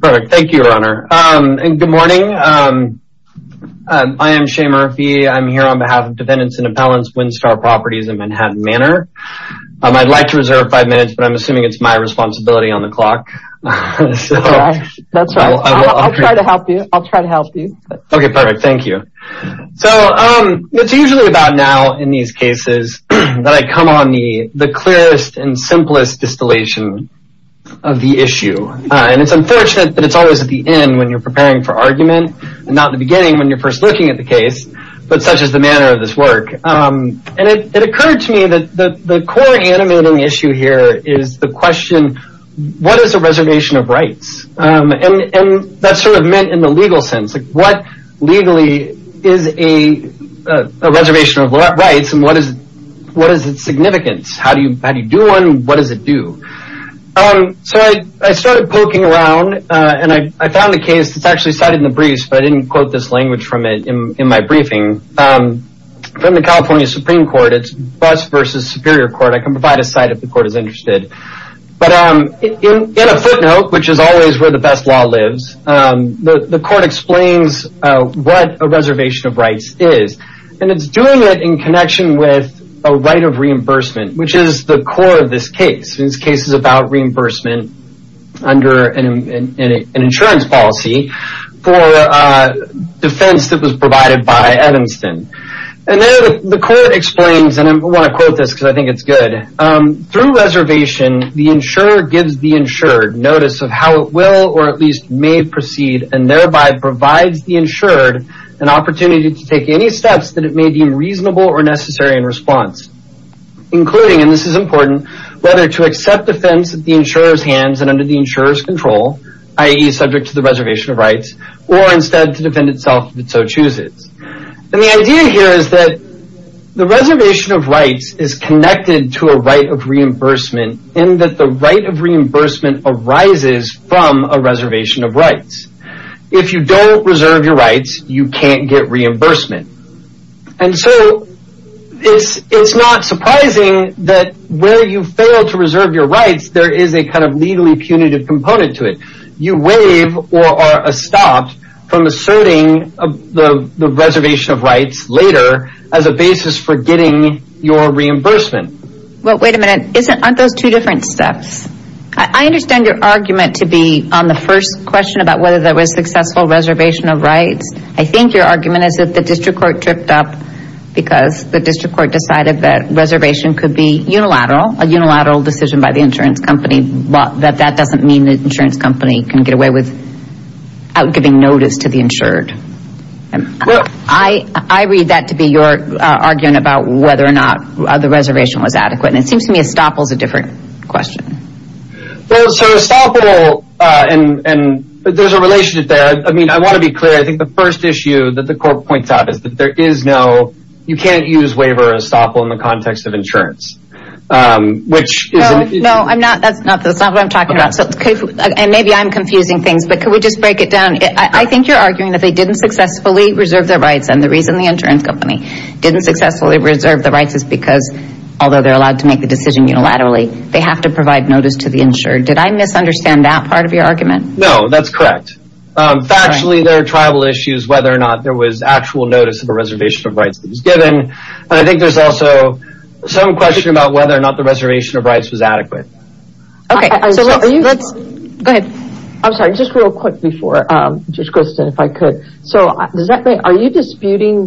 Perfect, thank you, Runner. And good morning. I am Shea Murphy. I'm here on behalf of Dependents and Appellants, Winstar Properties in Manhattan Manor. I'd like to reserve five minutes, but I'm assuming it's my responsibility on the clock. That's right. I'll try to help you. I'll try to help you. Okay, perfect. Thank you. So, it's usually about now in these cases that come on me the clearest and simplest distillation of the issue. And it's unfortunate that it's always at the end when you're preparing for argument and not the beginning when you're first looking at the case, but such is the manner of this work. And it occurred to me that the core animating issue here is the question, what is a reservation of rights? And that's sort of meant in a legal sense. What legally is a reservation of rights and what is its significance? How do you do one? What does it do? So, I started poking around and I found a case that's actually cited in the briefs, but I didn't quote this language from it in my briefing. From the California Supreme Court, it's bus versus superior court. I can provide a site if the court is interested. But in a footnote, which is always where the best law lives, the court explains what a reservation of rights is. And it's doing it in connection with a right of reimbursement, which is the core of this case. This case is about reimbursement under an insurance policy for a defense that was provided by Evanston. And then the court explains, and I want to quote this because I The insurer gives the insured notice of how it will or at least may proceed and thereby provides the insured an opportunity to take any steps that it may deem reasonable or necessary in response. Including, and this is important, whether to accept defense at the insurer's hands and under the insurer's control, i.e. subject to the reservation of rights, or instead to defend itself if it so chooses. And the idea here is that the reservation of rights is connected to a right of reimbursement in that the right of reimbursement arises from a reservation of rights. If you don't reserve your rights, you can't get reimbursement. And so it's not surprising that where you fail to reserve your rights, there is a kind of legally punitive component to it. You waive or are stopped from asserting the reservation of rights later as a basis for your reimbursement. But wait a minute, aren't those two different steps? I understand your argument to be on the first question about whether there was successful reservation of rights. I think your argument is that the district court tripped up because the district court decided that reservation could be unilateral, a unilateral decision by the insurance company, but that doesn't mean the insurance company can get away with out giving notice to the insured. And I read that to be your argument about whether or not the reservation was adequate. And it seems to me estoppel is a different question. Well, so estoppel, and there's a relationship there. I mean, I want to be clear. I think the first issue that the court points out is that there is no, you can't use waiver or estoppel in the context of insurance, which is. No, I'm not. That's not what I'm talking about. And maybe I'm confusing things, but could we just break it down? I think you're arguing that they didn't successfully reserve their rights. And the reason the insurance company didn't successfully reserve the rights is because although they're allowed to make the decision unilaterally, they have to provide notice to the insured. Did I misunderstand that part of your argument? No, that's correct. Factually, there are tribal issues, whether or not there was actual notice of a reservation of rights that was given. And I think there's also some question about whether or not the reservation of rights was adequate. Are you disputing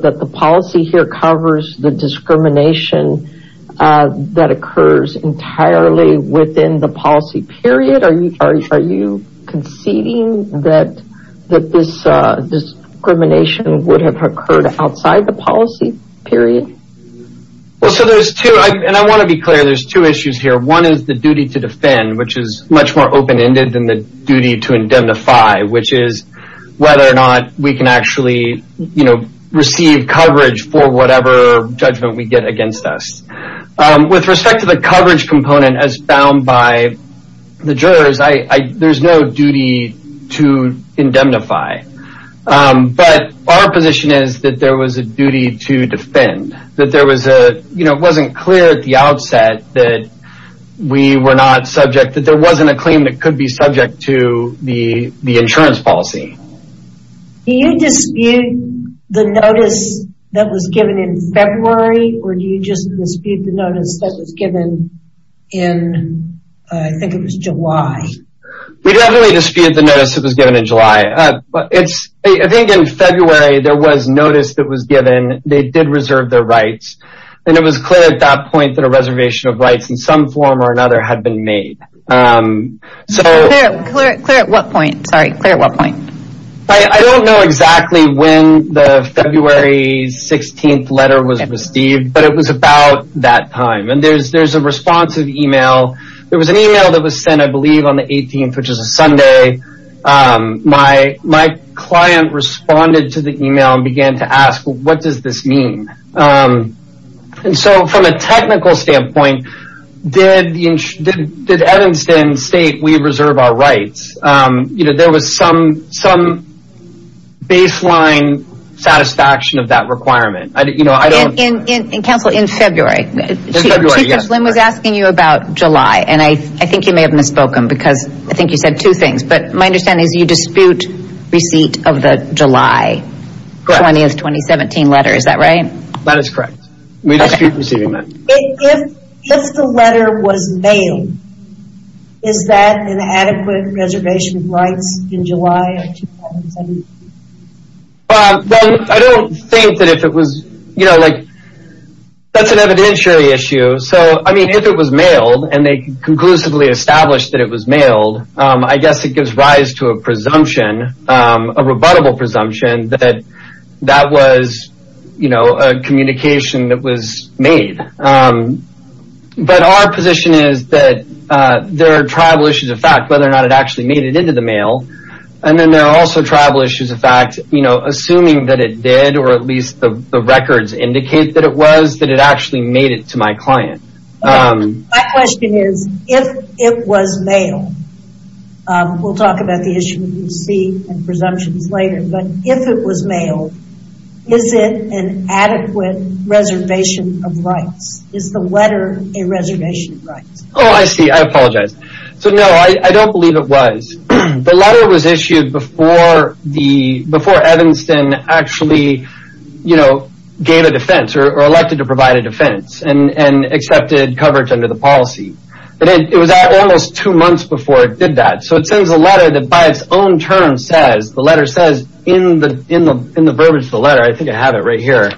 that the policy here covers the discrimination that occurs entirely within the policy period? Are you conceding that this discrimination would have occurred outside the policy period? Well, so there's two, and I want to be clear, there's two issues here. One is the duty to defend, which is much more open-ended than the duty to indemnify, which is whether or not we can actually receive coverage for whatever judgment we get against us. With respect to the coverage component as found by the jurors, there's no duty to indemnify. But our position is that there was a duty to defend. It wasn't clear at the outset that there wasn't a claim that could be subject to the insurance policy. Do you dispute the notice that was given in February, or do you just dispute the notice that was given in, I think it was July? We definitely dispute the notice that was given in July. I think in February there was notice that was given, they did reserve their rights, and it was clear at that point that a reservation of rights in some form or another had been made. Clear at what point? Sorry, clear at what point? I don't know exactly when the February 16th letter was received, but it was about that time. There's a responsive email. There was an email that was sent, I believe, on the 18th, which is a Sunday. My client responded to the email and began to ask, what does this mean? From a technical standpoint, did Evanston state we reserve our rights? There was some baseline satisfaction of that requirement. Counsel, in February, Chief Slim was asking you about July, and I think you may have misspoken because I think you said two things. My understanding is you dispute receipt of the July 20th, 2017 letter, is that right? That is correct. We dispute receiving that. If the letter was mailed, is that an adequate reservation of rights in July of 2017? I don't think that if it was, that's an evidentiary issue. If it was mailed, and they conclusively established that it was mailed, I guess it gives rise to a presumption, a rebuttable presumption, that that was a communication that was made. But our position is that there are tribal issues of fact, whether or not it actually made it into the mail, and then there are also tribal issues of fact, assuming that it did, or at least the records indicate that it was, that it actually made it to my client. My question is, if it was mailed, we'll talk about the issue of receipt and presumptions later, but if it was mailed, is it an adequate reservation of rights? Is the letter a reservation of rights? Oh, I see. I apologize. No, I don't believe it was. The letter was issued before Evanston actually gave a defense, or elected to provide a defense, and accepted coverage under the policy. It was almost two months before it did that. So it sends a letter that by its own terms says, the letter says, in the verbiage of the letter, I think I have it right here,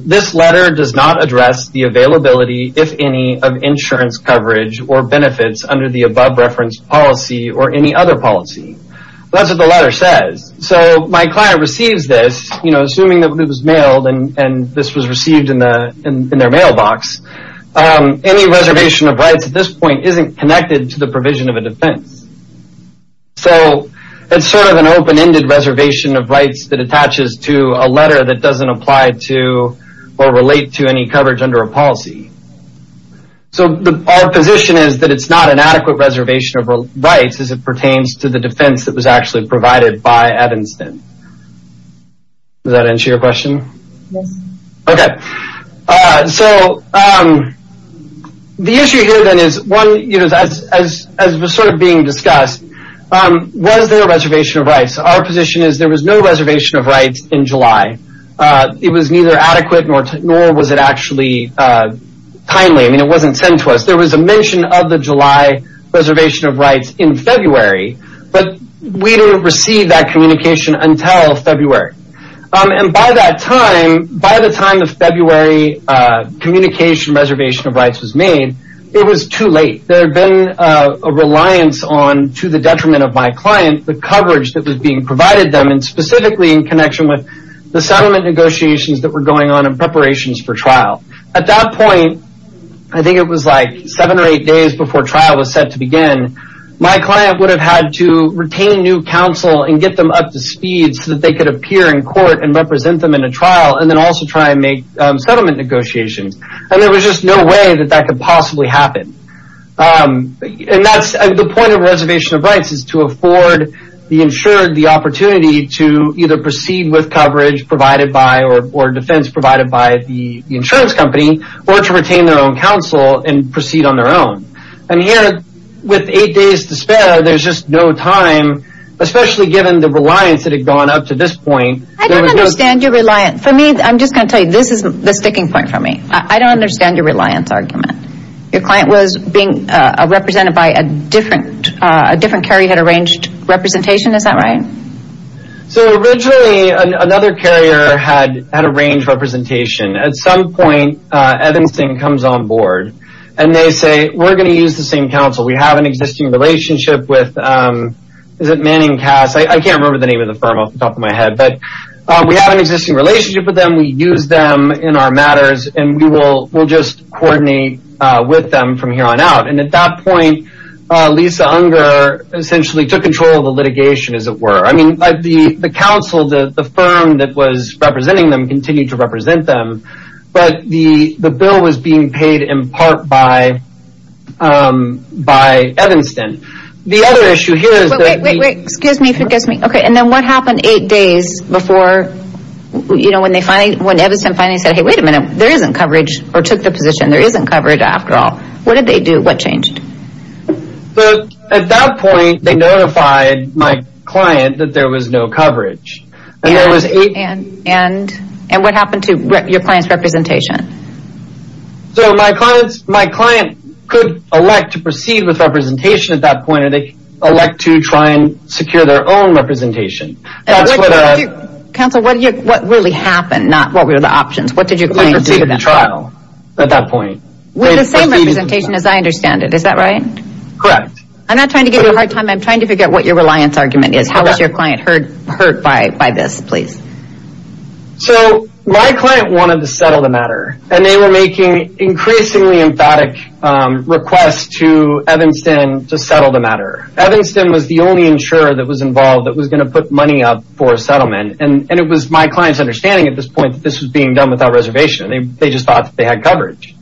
this letter does not address the availability, if any, of insurance coverage or benefits under the above-referenced policy or any other policy. That's what the letter says. So my client receives this, assuming that it was mailed and this was received in their mailbox, any reservation of rights at this point isn't connected to the provision of a defense. So it's sort of an open-ended reservation of rights that attaches to a letter that doesn't apply to or relate to any coverage under a policy. So our position is that it's not an adequate reservation of rights as it is being discussed. Was there a reservation of rights? Our position is there was no reservation of rights in July. It was neither adequate nor was it actually timely. It wasn't sent to us. There was a mention of the July reservation of rights in February, but we didn't receive that until February. And by that time, by the time of February, communication reservation of rights was made, it was too late. There had been a reliance on, to the detriment of my client, the coverage that was being provided them and specifically in connection with the settlement negotiations that were going on in preparations for trial. At that point, I think it was like seven or eight days before trial was set to begin, my client would have had to retain new counsel and get them up to speed so that they could appear in court and represent them in a trial and then also try and make settlement negotiations. And there was just no way that that could possibly happen. And that's the point of reservation of rights is to afford the insured the opportunity to either proceed with coverage provided by or defense provided by the insurance company or to retain their own counsel and proceed on their own. And here, with eight days to spare, there's just no time, especially given the reliance that had gone up to this point. I don't understand your reliance. For me, I'm just going to tell you, this is the sticking point for me. I don't understand your reliance argument. Your client was being represented by a different carrier who had arranged representation. Is that right? So originally, another carrier had arranged representation. At some point, Evanstein comes on board and they say, we're going to use the same counsel. We have an existing relationship with, is it Manning Cass? I can't remember the name of the firm off the top of my head, but we have an existing relationship with them. We use them in our matters and we will just coordinate with them from here on out. And at that point, Lisa Unger essentially took control of the litigation, as it were. I mean, the counsel, the firm that was representing them, continued to but the bill was being paid in part by Evanstein. The other issue here is... Wait, wait, wait. Excuse me. Okay. And then what happened eight days before, you know, when Evanstein finally said, hey, wait a minute, there isn't coverage, or took the position, there isn't coverage after all. What did they do? What changed? So at that point, they notified my client that there was no coverage. And what happened to your client's representation? So my client could elect to proceed with representation at that point, or they elect to try and secure their own representation. Counsel, what really happened, not what were the options? What did your client do? We proceeded to trial at that point. With the same representation as I understand it, is that right? Correct. I'm not trying to give you a hard time. I'm trying to figure out what your reliance argument is. How was your client hurt by this, please? So my client wanted to settle the matter. And they were making increasingly emphatic requests to Evanstein to settle the matter. Evanstein was the only insurer that was involved that was going to put money up for a settlement. And it was my client's understanding at this point that this was being done without reservation. They just thought that they had coverage.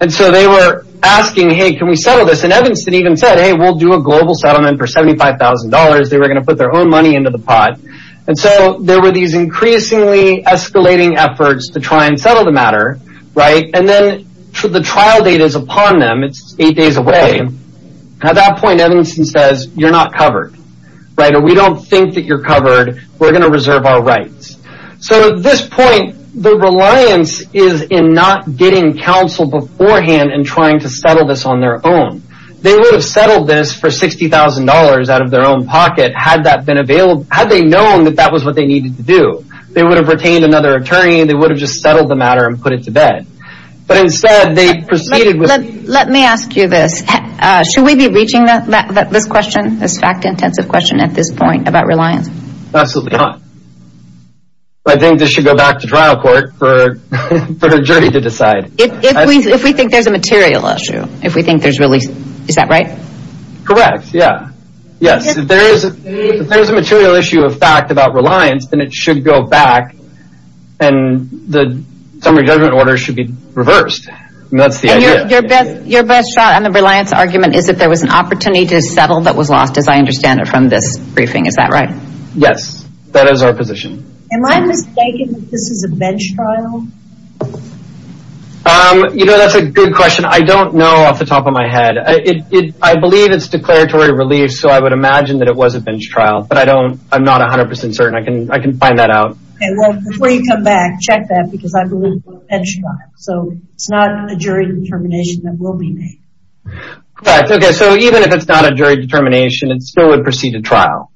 And so they were asking, hey, can we settle this? And Evanstein even said, hey, we'll do a global settlement for $75,000. They were going to put their own money into the pot. And so there were these increasingly escalating efforts to try and settle the matter. Right? And then the trial date is upon them. It's eight days away. At that point, Evanstein says, you're not covered. Right? And we don't think that you're covered. We're going to reserve our rights. So at this point, the reliance is in not getting counsel beforehand and trying to settle this on their own. They would have settled this for $60,000 out of their own pocket had that been available, had they known that that was what they needed to do. They would have retained another attorney. They would have just settled the matter and put it to bed. But instead, they proceeded with it. Let me ask you this. Should we be reaching this question, this fact-intensive question at this point about reliance? Absolutely not. I think this should go back to trial court for a jury to decide. If we think there's a material issue. If we think there's really... Is that right? Correct. Yeah. Yes. If there is a material issue of fact about reliance, then it should go back and the summary judgment order should be reversed. And that's the idea. Your best shot on the reliance argument is if there was an opportunity to settle that was lost, as I understand it, from this briefing. Is that right? Yes. That is our position. Am I mistaken that this is a bench trial? You know, that's a good question. I don't know off the top of my head. I believe it's declaratory relief. So I would imagine that it was a bench trial, but I don't... I'm not 100% certain. I can find that out. Well, before you come back, check that, because I believe it's a bench trial. So it's not a jury determination that will be made. Correct. Okay. So even if it's not a jury determination, it still would proceed to trial.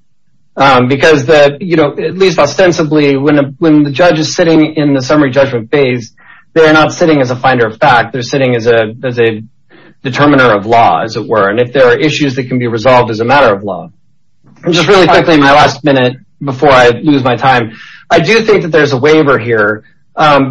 Because that, you know, at least ostensibly, when the judge is sitting in the summary judgment phase, they're not sitting as a finder of fact. They're sitting as a determiner of law, as it were. And if there are issues that can be resolved as a matter of law. And just really quickly, my last minute, before I lose my time, I do think that there's a waiver here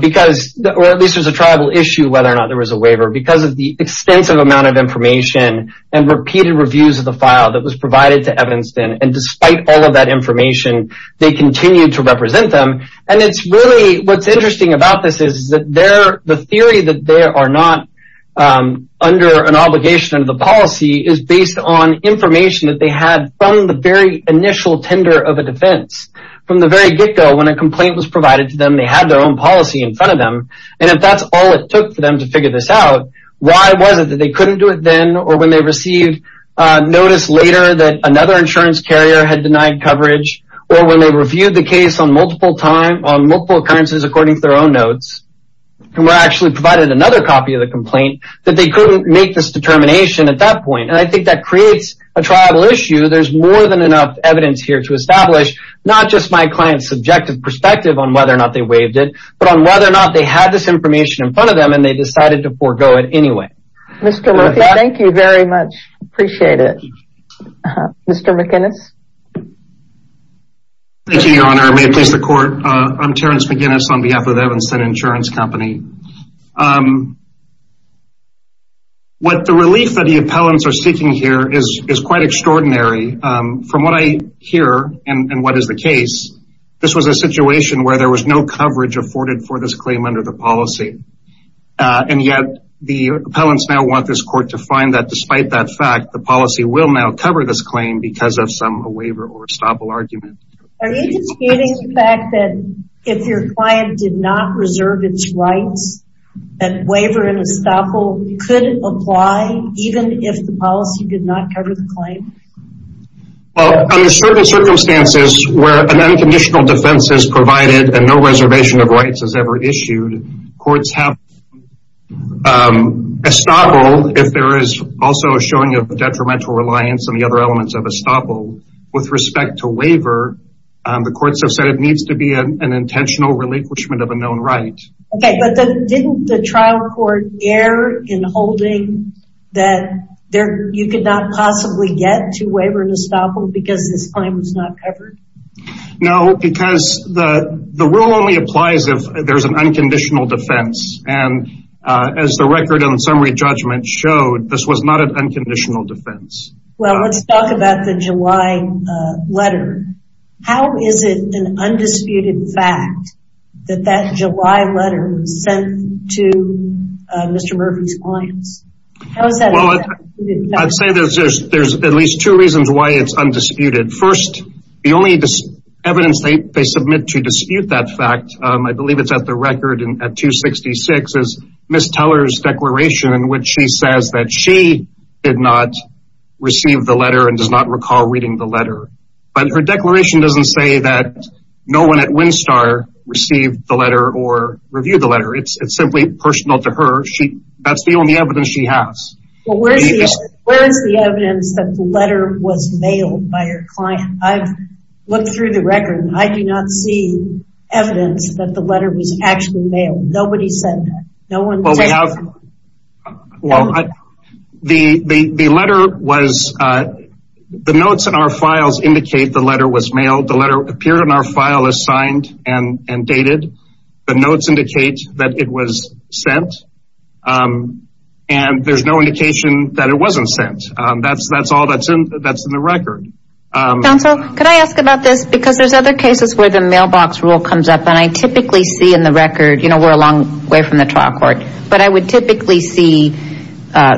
because, or at least there's a tribal issue whether or not there was a waiver because of the extensive amount of information and repeated reviews of the file that was provided to Evanston. And despite all of that information, they continued to represent them. And it's really, what's interesting about this is that the theory that they are not under an obligation of the policy is based on information that they had from the very initial tender of a defense. From the very get-go, when a complaint was provided to them, they had their own policy in front of them. And if that's all it took for them to figure this out, why was it that they couldn't do it then? Or when they received notice later that another insurance carrier had denied coverage, or they reviewed the case on multiple times, on multiple occurrences according to their own notes, and were actually provided another copy of the complaint, that they couldn't make this determination at that point. And I think that creates a tribal issue. There's more than enough evidence here to establish, not just my client's subjective perspective on whether or not they waived it, but on whether or not they had this information in front of them and they decided to forego it anyway. Mr. Murphy, thank you very much. Appreciate it. Mr. McInnis? Thank you, Your Honor. May it please the Court. I'm Terence McInnis on behalf of the Evanston Insurance Company. What the relief that the appellants are seeking here is quite extraordinary. From what I hear, and what is the case, this was a situation where there was no coverage afforded for this claim under the policy. And yet, the appellants now want this Court to find that despite that fact, the policy will now cover this claim because of some waiver or estoppel argument. Are you disputing the fact that if your client did not reserve its rights, that waiver and estoppel could apply even if the policy did not cover the claim? Well, under certain circumstances where an unconditional defense is provided and no reservation of rights is ever issued, courts have estoppel if there is also a showing of courts have said it needs to be an intentional relinquishment of a known right. Okay, but didn't the trial court err in holding that you could not possibly get to waiver and estoppel because this claim was not covered? No, because the rule only applies if there's an unconditional defense. And as the record on summary judgment showed, this was not an unconditional defense. Well, let's talk about the July letter. How is it an undisputed fact that that July letter was sent to Mr. Murphy's clients? I'd say there's at least two reasons why it's undisputed. First, the only evidence they submit to dispute that fact, I believe it's at the record at 266, is Ms. Teller's declaration in which she says that she did not receive the letter and does not recall reading the letter. But her declaration doesn't say that no one at WinStar received the letter or reviewed the letter. It's simply personal to her. That's the only evidence she has. Well, where's the evidence that the letter was mailed by her client? I've looked through the record. I do not see evidence that the letter was actually mailed. Nobody said that. Well, the notes in our files indicate the letter was mailed. The letter appeared in our file as signed and dated. The notes indicate that it was sent. And there's no indication that it wasn't sent. That's all that's in the record. Counsel, could I ask about this? Because there's other cases where the mailbox rule comes up. And I typically see in the record, you know, we're a long way from the trial court. But I would typically see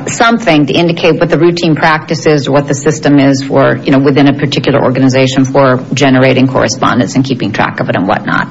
something to indicate what the routine practice is or what the system is for, you know, within a particular organization for generating correspondence and keeping track of it and whatnot.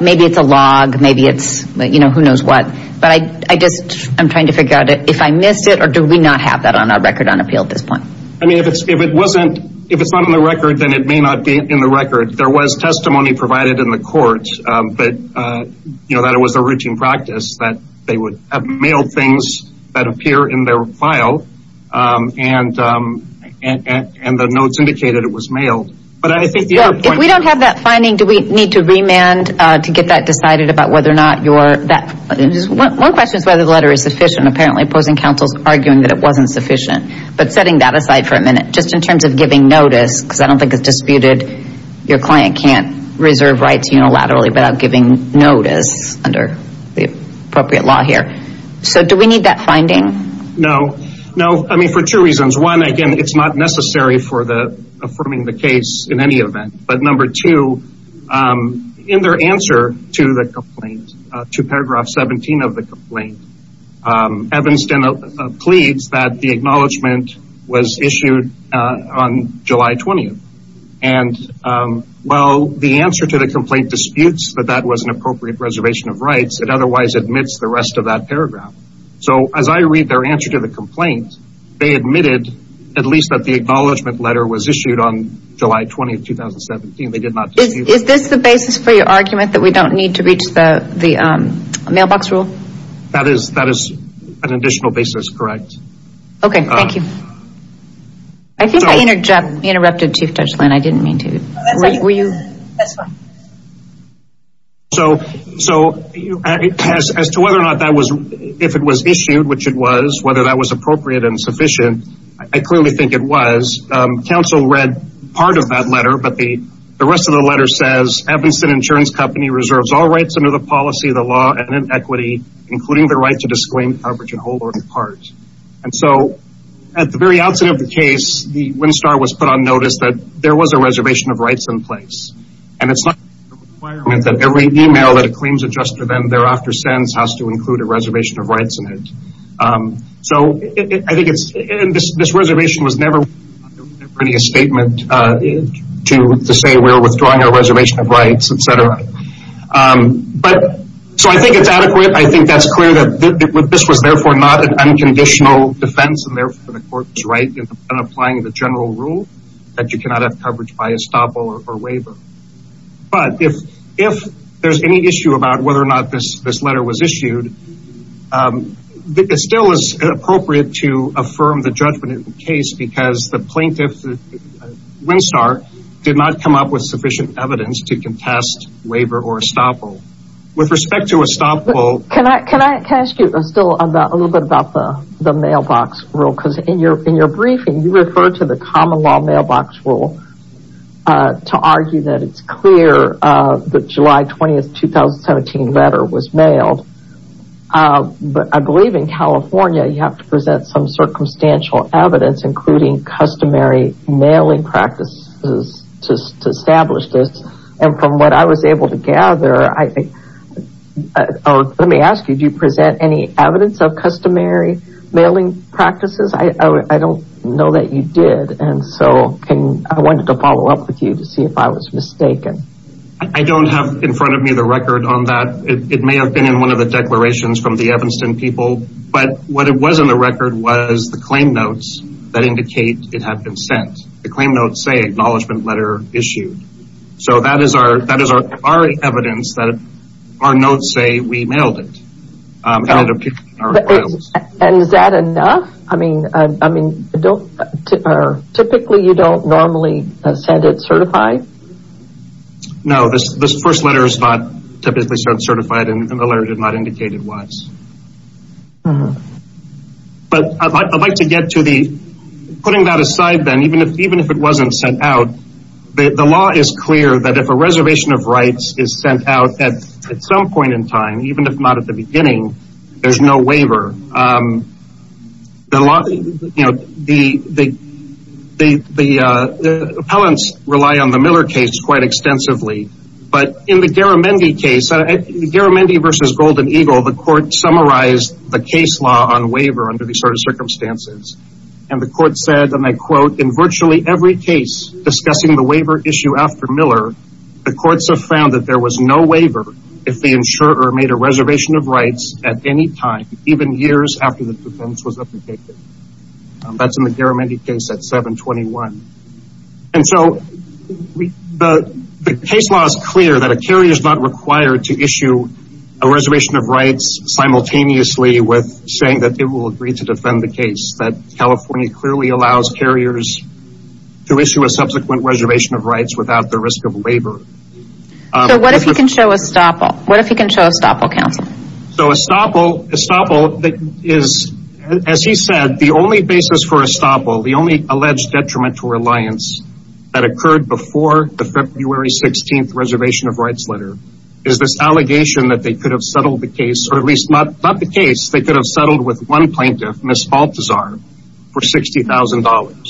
Maybe it's a log. Maybe it's, you know, who knows what. But I just, I'm trying to figure out if I missed it or do we not have that on our record on appeal at this point? I mean, if it wasn't, if it's not on the record, then it may not be in the record. There was testimony provided in the court that, you know, that it was a routine practice that they would have mailed things that appear in their file and the notes indicated it was mailed. But I think the other point... If we don't have that finding, do we need to remand to get that decided about whether or not your... One question is whether the letter is sufficient. Apparently opposing counsel's arguing that it wasn't sufficient. But setting that aside for a minute, just in terms of giving notice, because I don't think it's disputed your client can't reserve rights unilaterally without giving notice under the appropriate law here. So do we need that finding? No. No. I mean, for two reasons. One, again, it's not necessary for the affirming the case in any event. But number two, in their answer to the complaint, to paragraph 17 of the complaint, Evanston pleads that the acknowledgement was issued on July 20th. And while the answer to the complaint disputes that that was an appropriate reservation of rights, it otherwise admits the rest of that paragraph. So as I read their answer to the complaint, they admitted at least that the acknowledgement letter was issued on July 20th, 2017. They did not... Is this the basis for your argument that we don't need to reach the mailbox rule? That is an additional basis. Correct. Okay. Thank you. I think I interrupted Chief Dutchlin. I didn't mean to. Were you? That's fine. So as to whether or not that was... If it was issued, which it was, whether that was appropriate and sufficient, I clearly think it was. Counsel read part of that letter, but the rest of the letter says, Evanston Insurance Company reserves all rights under the policy of the law and in equity, including the right to disclaim coverage in whole or in part. And so at the very outset of the case, the WinStar was put on notice that there was a reservation of rights in place. And it's not a requirement that every email that a claims adjuster then thereafter sends has to include a reservation of rights in it. So I think it's... And this reservation was never... Pretty a statement to say we're withdrawing our reservation of rights, et cetera. So I think it's adequate. I think that's clear that this was therefore not an unconditional defense. And therefore the court was right in applying the general rule that you cannot have coverage by estoppel or waiver. But if there's any issue about whether or not this letter was issued, it still is appropriate to affirm the judgment in the case because the plaintiff, WinStar, did not come up with sufficient evidence to contest waiver or estoppel. With respect to estoppel... Can I ask you still a little bit about the mailbox rule? Because in your briefing, you referred to the common law mailbox rule to argue that it's clear the July 20th, 2017 letter was mailed. But I believe in California, you have to present some circumstantial evidence, including customary mailing practices to establish this. And from what I was able to gather, I think... Oh, let me ask you, do you present any evidence of customary mailing practices? I don't know that you did. And so I wanted to follow up with you to see if I was mistaken. I don't have in front of me the record on that. It may have been in one of the declarations from the Evanston people. But what it was in the record was the claim notes that indicate it had been sent. The claim notes say acknowledgment letter issued. So that is our evidence that our notes say we mailed it. And is that enough? Typically, you don't normally send it certified? No, this first letter is not typically certified, and the letter did not indicate it was. But I'd like to get to the... Putting that aside, then, even if it wasn't sent out, the law is clear that if a reservation of rights is sent out at some point in time, even if not at the beginning, there's no waiver. The appellants rely on the Miller case quite extensively. But in the Garamendi case, Garamendi versus Golden Eagle, the court summarized the case law on waiver under these sort of circumstances. And the court said, and I quote, in virtually every case discussing the waiver issue after Miller, the courts have found that there was no waiver if the insurer made a reservation of rights at any time, even years after the defense was applicated. That's in the Garamendi case at 721. And so the case law is clear that a carrier is not required to issue a reservation of rights simultaneously with saying that they will agree to defend the case. That California clearly allows carriers to issue a subsequent reservation of rights without the risk of waiver. So what if he can show a stoppal? What if he can show a stoppal, counsel? So a stoppal is, as he said, the only basis for a stoppal, the only alleged detrimental reliance that occurred before the February 16th reservation of rights letter is this allegation that they could have settled the case, or at least not the case, they could have settled with one plaintiff, Ms. Baltazar, for $60,000.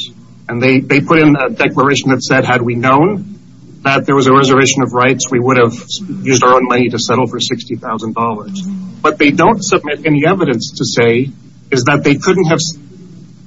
And they put in a declaration that said, had we known that there was a reservation of rights, we would have used our own money to settle for $60,000. What they don't submit any evidence to say is that they couldn't have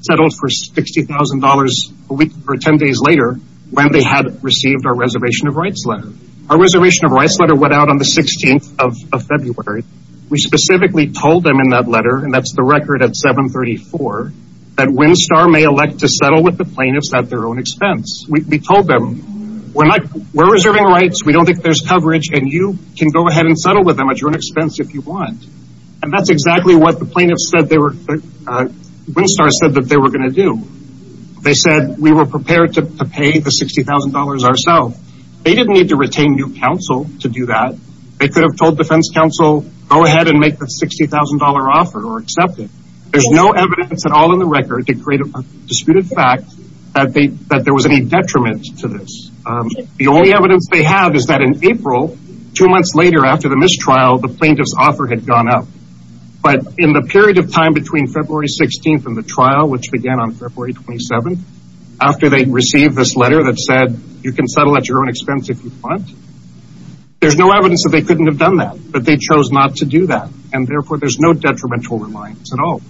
settled for $60,000 a week or 10 days later when they had received our reservation of rights letter. Our reservation of rights letter went out on the 16th of February. We specifically told them in that letter, and that's the record at 734, that WinStar may elect to settle with the plaintiffs at their own expense. We told them, we're not, we're reserving rights. We don't think there's coverage. And you can go ahead and settle with them at your own expense if you want. And that's exactly what the plaintiffs said they were, WinStar said that they were going to do. They said, we were prepared to pay the $60,000 ourselves. They didn't need to retain new counsel to do that. They could have told defense counsel, go ahead and make the $60,000 offer or accept it. There's no evidence at all in the record to create a disputed fact that there was any detriment to this. The only evidence they have is that in April, two months later after the mistrial, the plaintiff's offer had gone up. But in the period of time between February 16th and the trial, which began on February 27th, after they received this letter that said, you can settle at your own expense if you want. There's no evidence that they couldn't have done that, but they chose not to do that. And therefore, there's no detrimental reliance at all.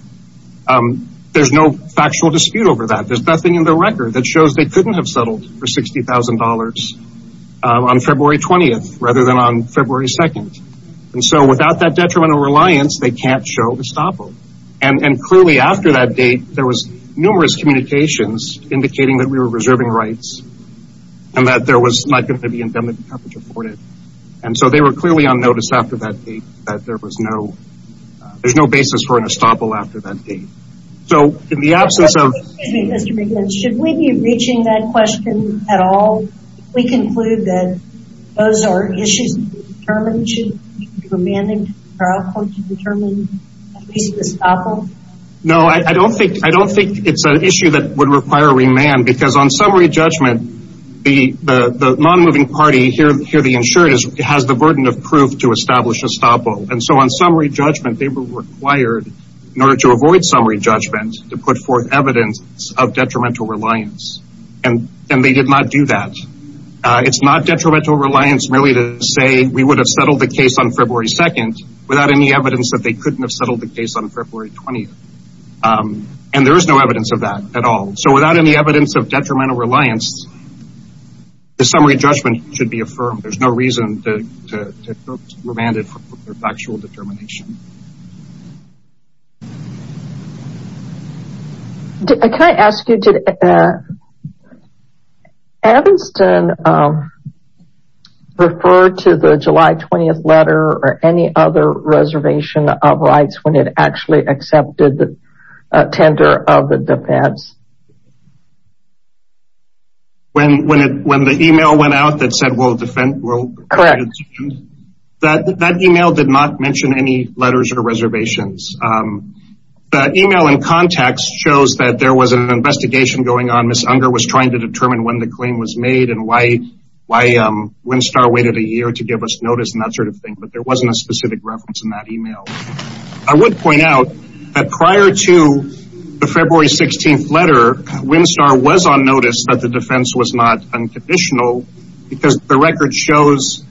There's no factual dispute over that. There's nothing in the record that shows they couldn't have settled for $60,000 on February 20th rather than on February 2nd. And so without that detrimental reliance, they can't show estoppel. And clearly after that date, there was numerous communications indicating that we were reserving rights and that there was not going to be indemnity coverage afforded. And so they were clearly on notice after that date that there was no, there's no basis for an estoppel after that date. So in the absence of- Excuse me, Mr. McGinn. Should we be reaching that question at all? We conclude that those are issues to be determined. Should remand and trial court determine at least estoppel? No, I don't think, I don't think it's an issue that would require a remand because on summary judgment, the non-moving party here, the insured, has the burden of proof to establish estoppel. And so on summary judgment, they were required in order to avoid summary judgment to put forth evidence of detrimental reliance. And they did not do that. It's not detrimental reliance merely to say we would have settled the case on February 2nd without any evidence that they couldn't have settled the case on February 20th. And there is no evidence of that at all. So without any evidence of detrimental reliance, the summary judgment should be affirmed. There's no reason to remand it for factual determination. Can I ask you, did Evanston refer to the July 20th letter or any other reservation of rights when it actually accepted the tender of the defense? When the email went out that said we'll defend, that email did not mention any letters or reservations. The email in context shows that there was an investigation going on. Ms. Unger was trying to determine when the claim was made and why Winstar waited a year to give us notice and that sort of thing. But there wasn't a specific reference in that email. Winstar was on notice that the defense was not unconditional because the record shows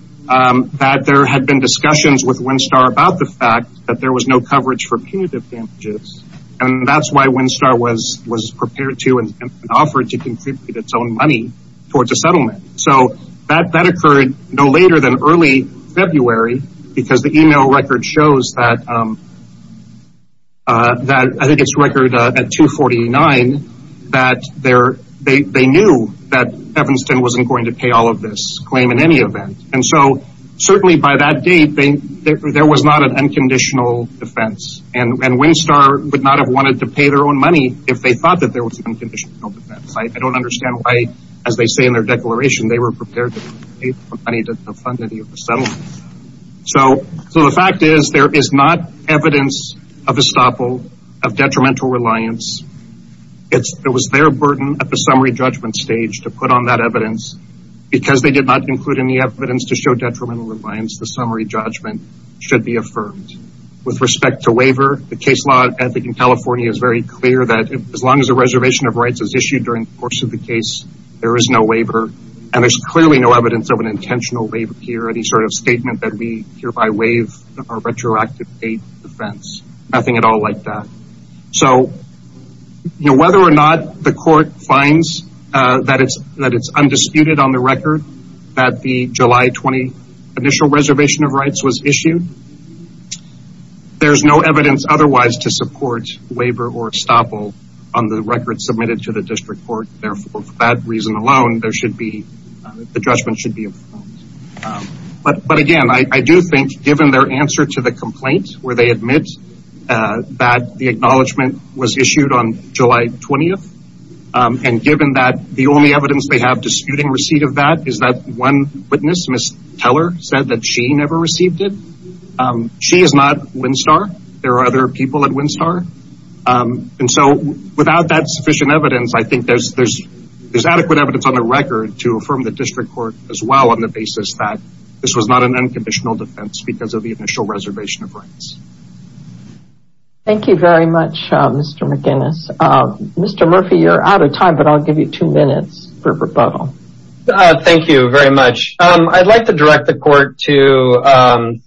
that there had been discussions with Winstar about the fact that there was no coverage for punitive damages. And that's why Winstar was prepared to and offered to contribute its own money towards a settlement. So that occurred no later than early February because the email record shows that I think at 249 that they knew that Evanston wasn't going to pay all of this claim in any event. And so certainly by that date, there was not an unconditional defense and Winstar would not have wanted to pay their own money if they thought that there was an unconditional defense. I don't understand why, as they say in their declaration, they were prepared to pay money to fund any settlement. So the fact is there is not evidence of estoppel, of detrimental reliance. It was their burden at the summary judgment stage to put on that evidence. Because they did not include any evidence to show detrimental reliance, the summary judgment should be affirmed. With respect to waiver, the case law I think in California is very clear that as long as a reservation of rights is issued during the course of the case, there is no waiver. And there's clearly no evidence of an intentional waiver here, any sort of statement that we hereby waive our retroactive paid defense. Nothing at all like that. So whether or not the court finds that it's undisputed on the record that the July 20 initial reservation of rights was issued, there's no evidence otherwise to support waiver or estoppel on the record submitted to the district court. Therefore, for that reason alone, the judgment should be affirmed. But again, I do think given their answer to the complaint where they admit that the acknowledgment was issued on July 20, and given that the only evidence they have disputing receipt of that is that one witness, Ms. Teller, said that she never received it. She is not WinStar. There are other people at WinStar. And so without that sufficient evidence, I think there's adequate evidence on the record to affirm the district court as well on the basis that this was not an unconditional defense because of the initial reservation of rights. Thank you very much, Mr. McGinnis. Mr. Murphy, you're out of time, but I'll give you two minutes for rebuttal. Thank you very much. I'd like to direct the court to volume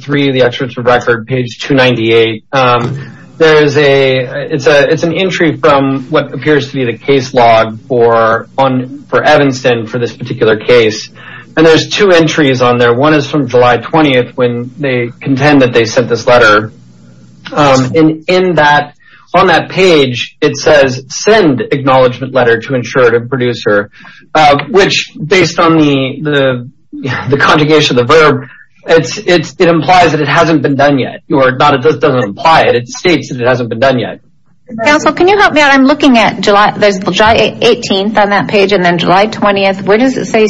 three of the experts for record, page 298. There is an entry from what appears to be the case log for Evanston for this particular case. And there's two entries on there. One is from July 20 when they contend that they sent this letter. And on that page, it says, send acknowledgment letter to ensure to producer, which based on the conjugation of the verb, it implies that it hasn't been done yet. Or not, it just doesn't imply it. It states that it hasn't been done yet. Counsel, can you help me out? I'm looking at July 18th on that page and then July 20th. Where does it say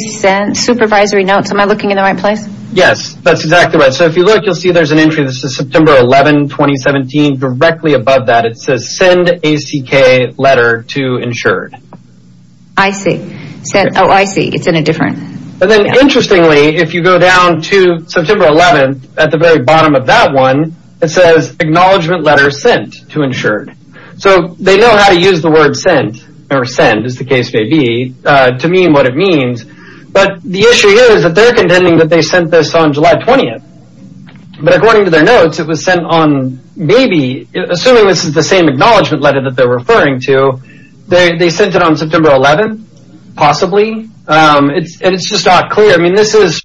supervisory notes? Am I looking in the right place? Yes, that's exactly right. So if you look, you'll see there's an entry. This is September 11, 2017. Directly above that, it says send ACK letter to insured. I see. Oh, I see. It's in a different. And then interestingly, if you go down to September 11th at the very bottom of that one, it says acknowledgment letter sent to insured. So they know how to use the word sent or send, as the case may be, to mean what it means. But the issue here is that they're contending that they sent this on July 20th. But according to their notes, it was sent on maybe, assuming this is the same acknowledgement letter that they're referring to, they sent it on September 11th, possibly. And it's just not clear. I mean, this is.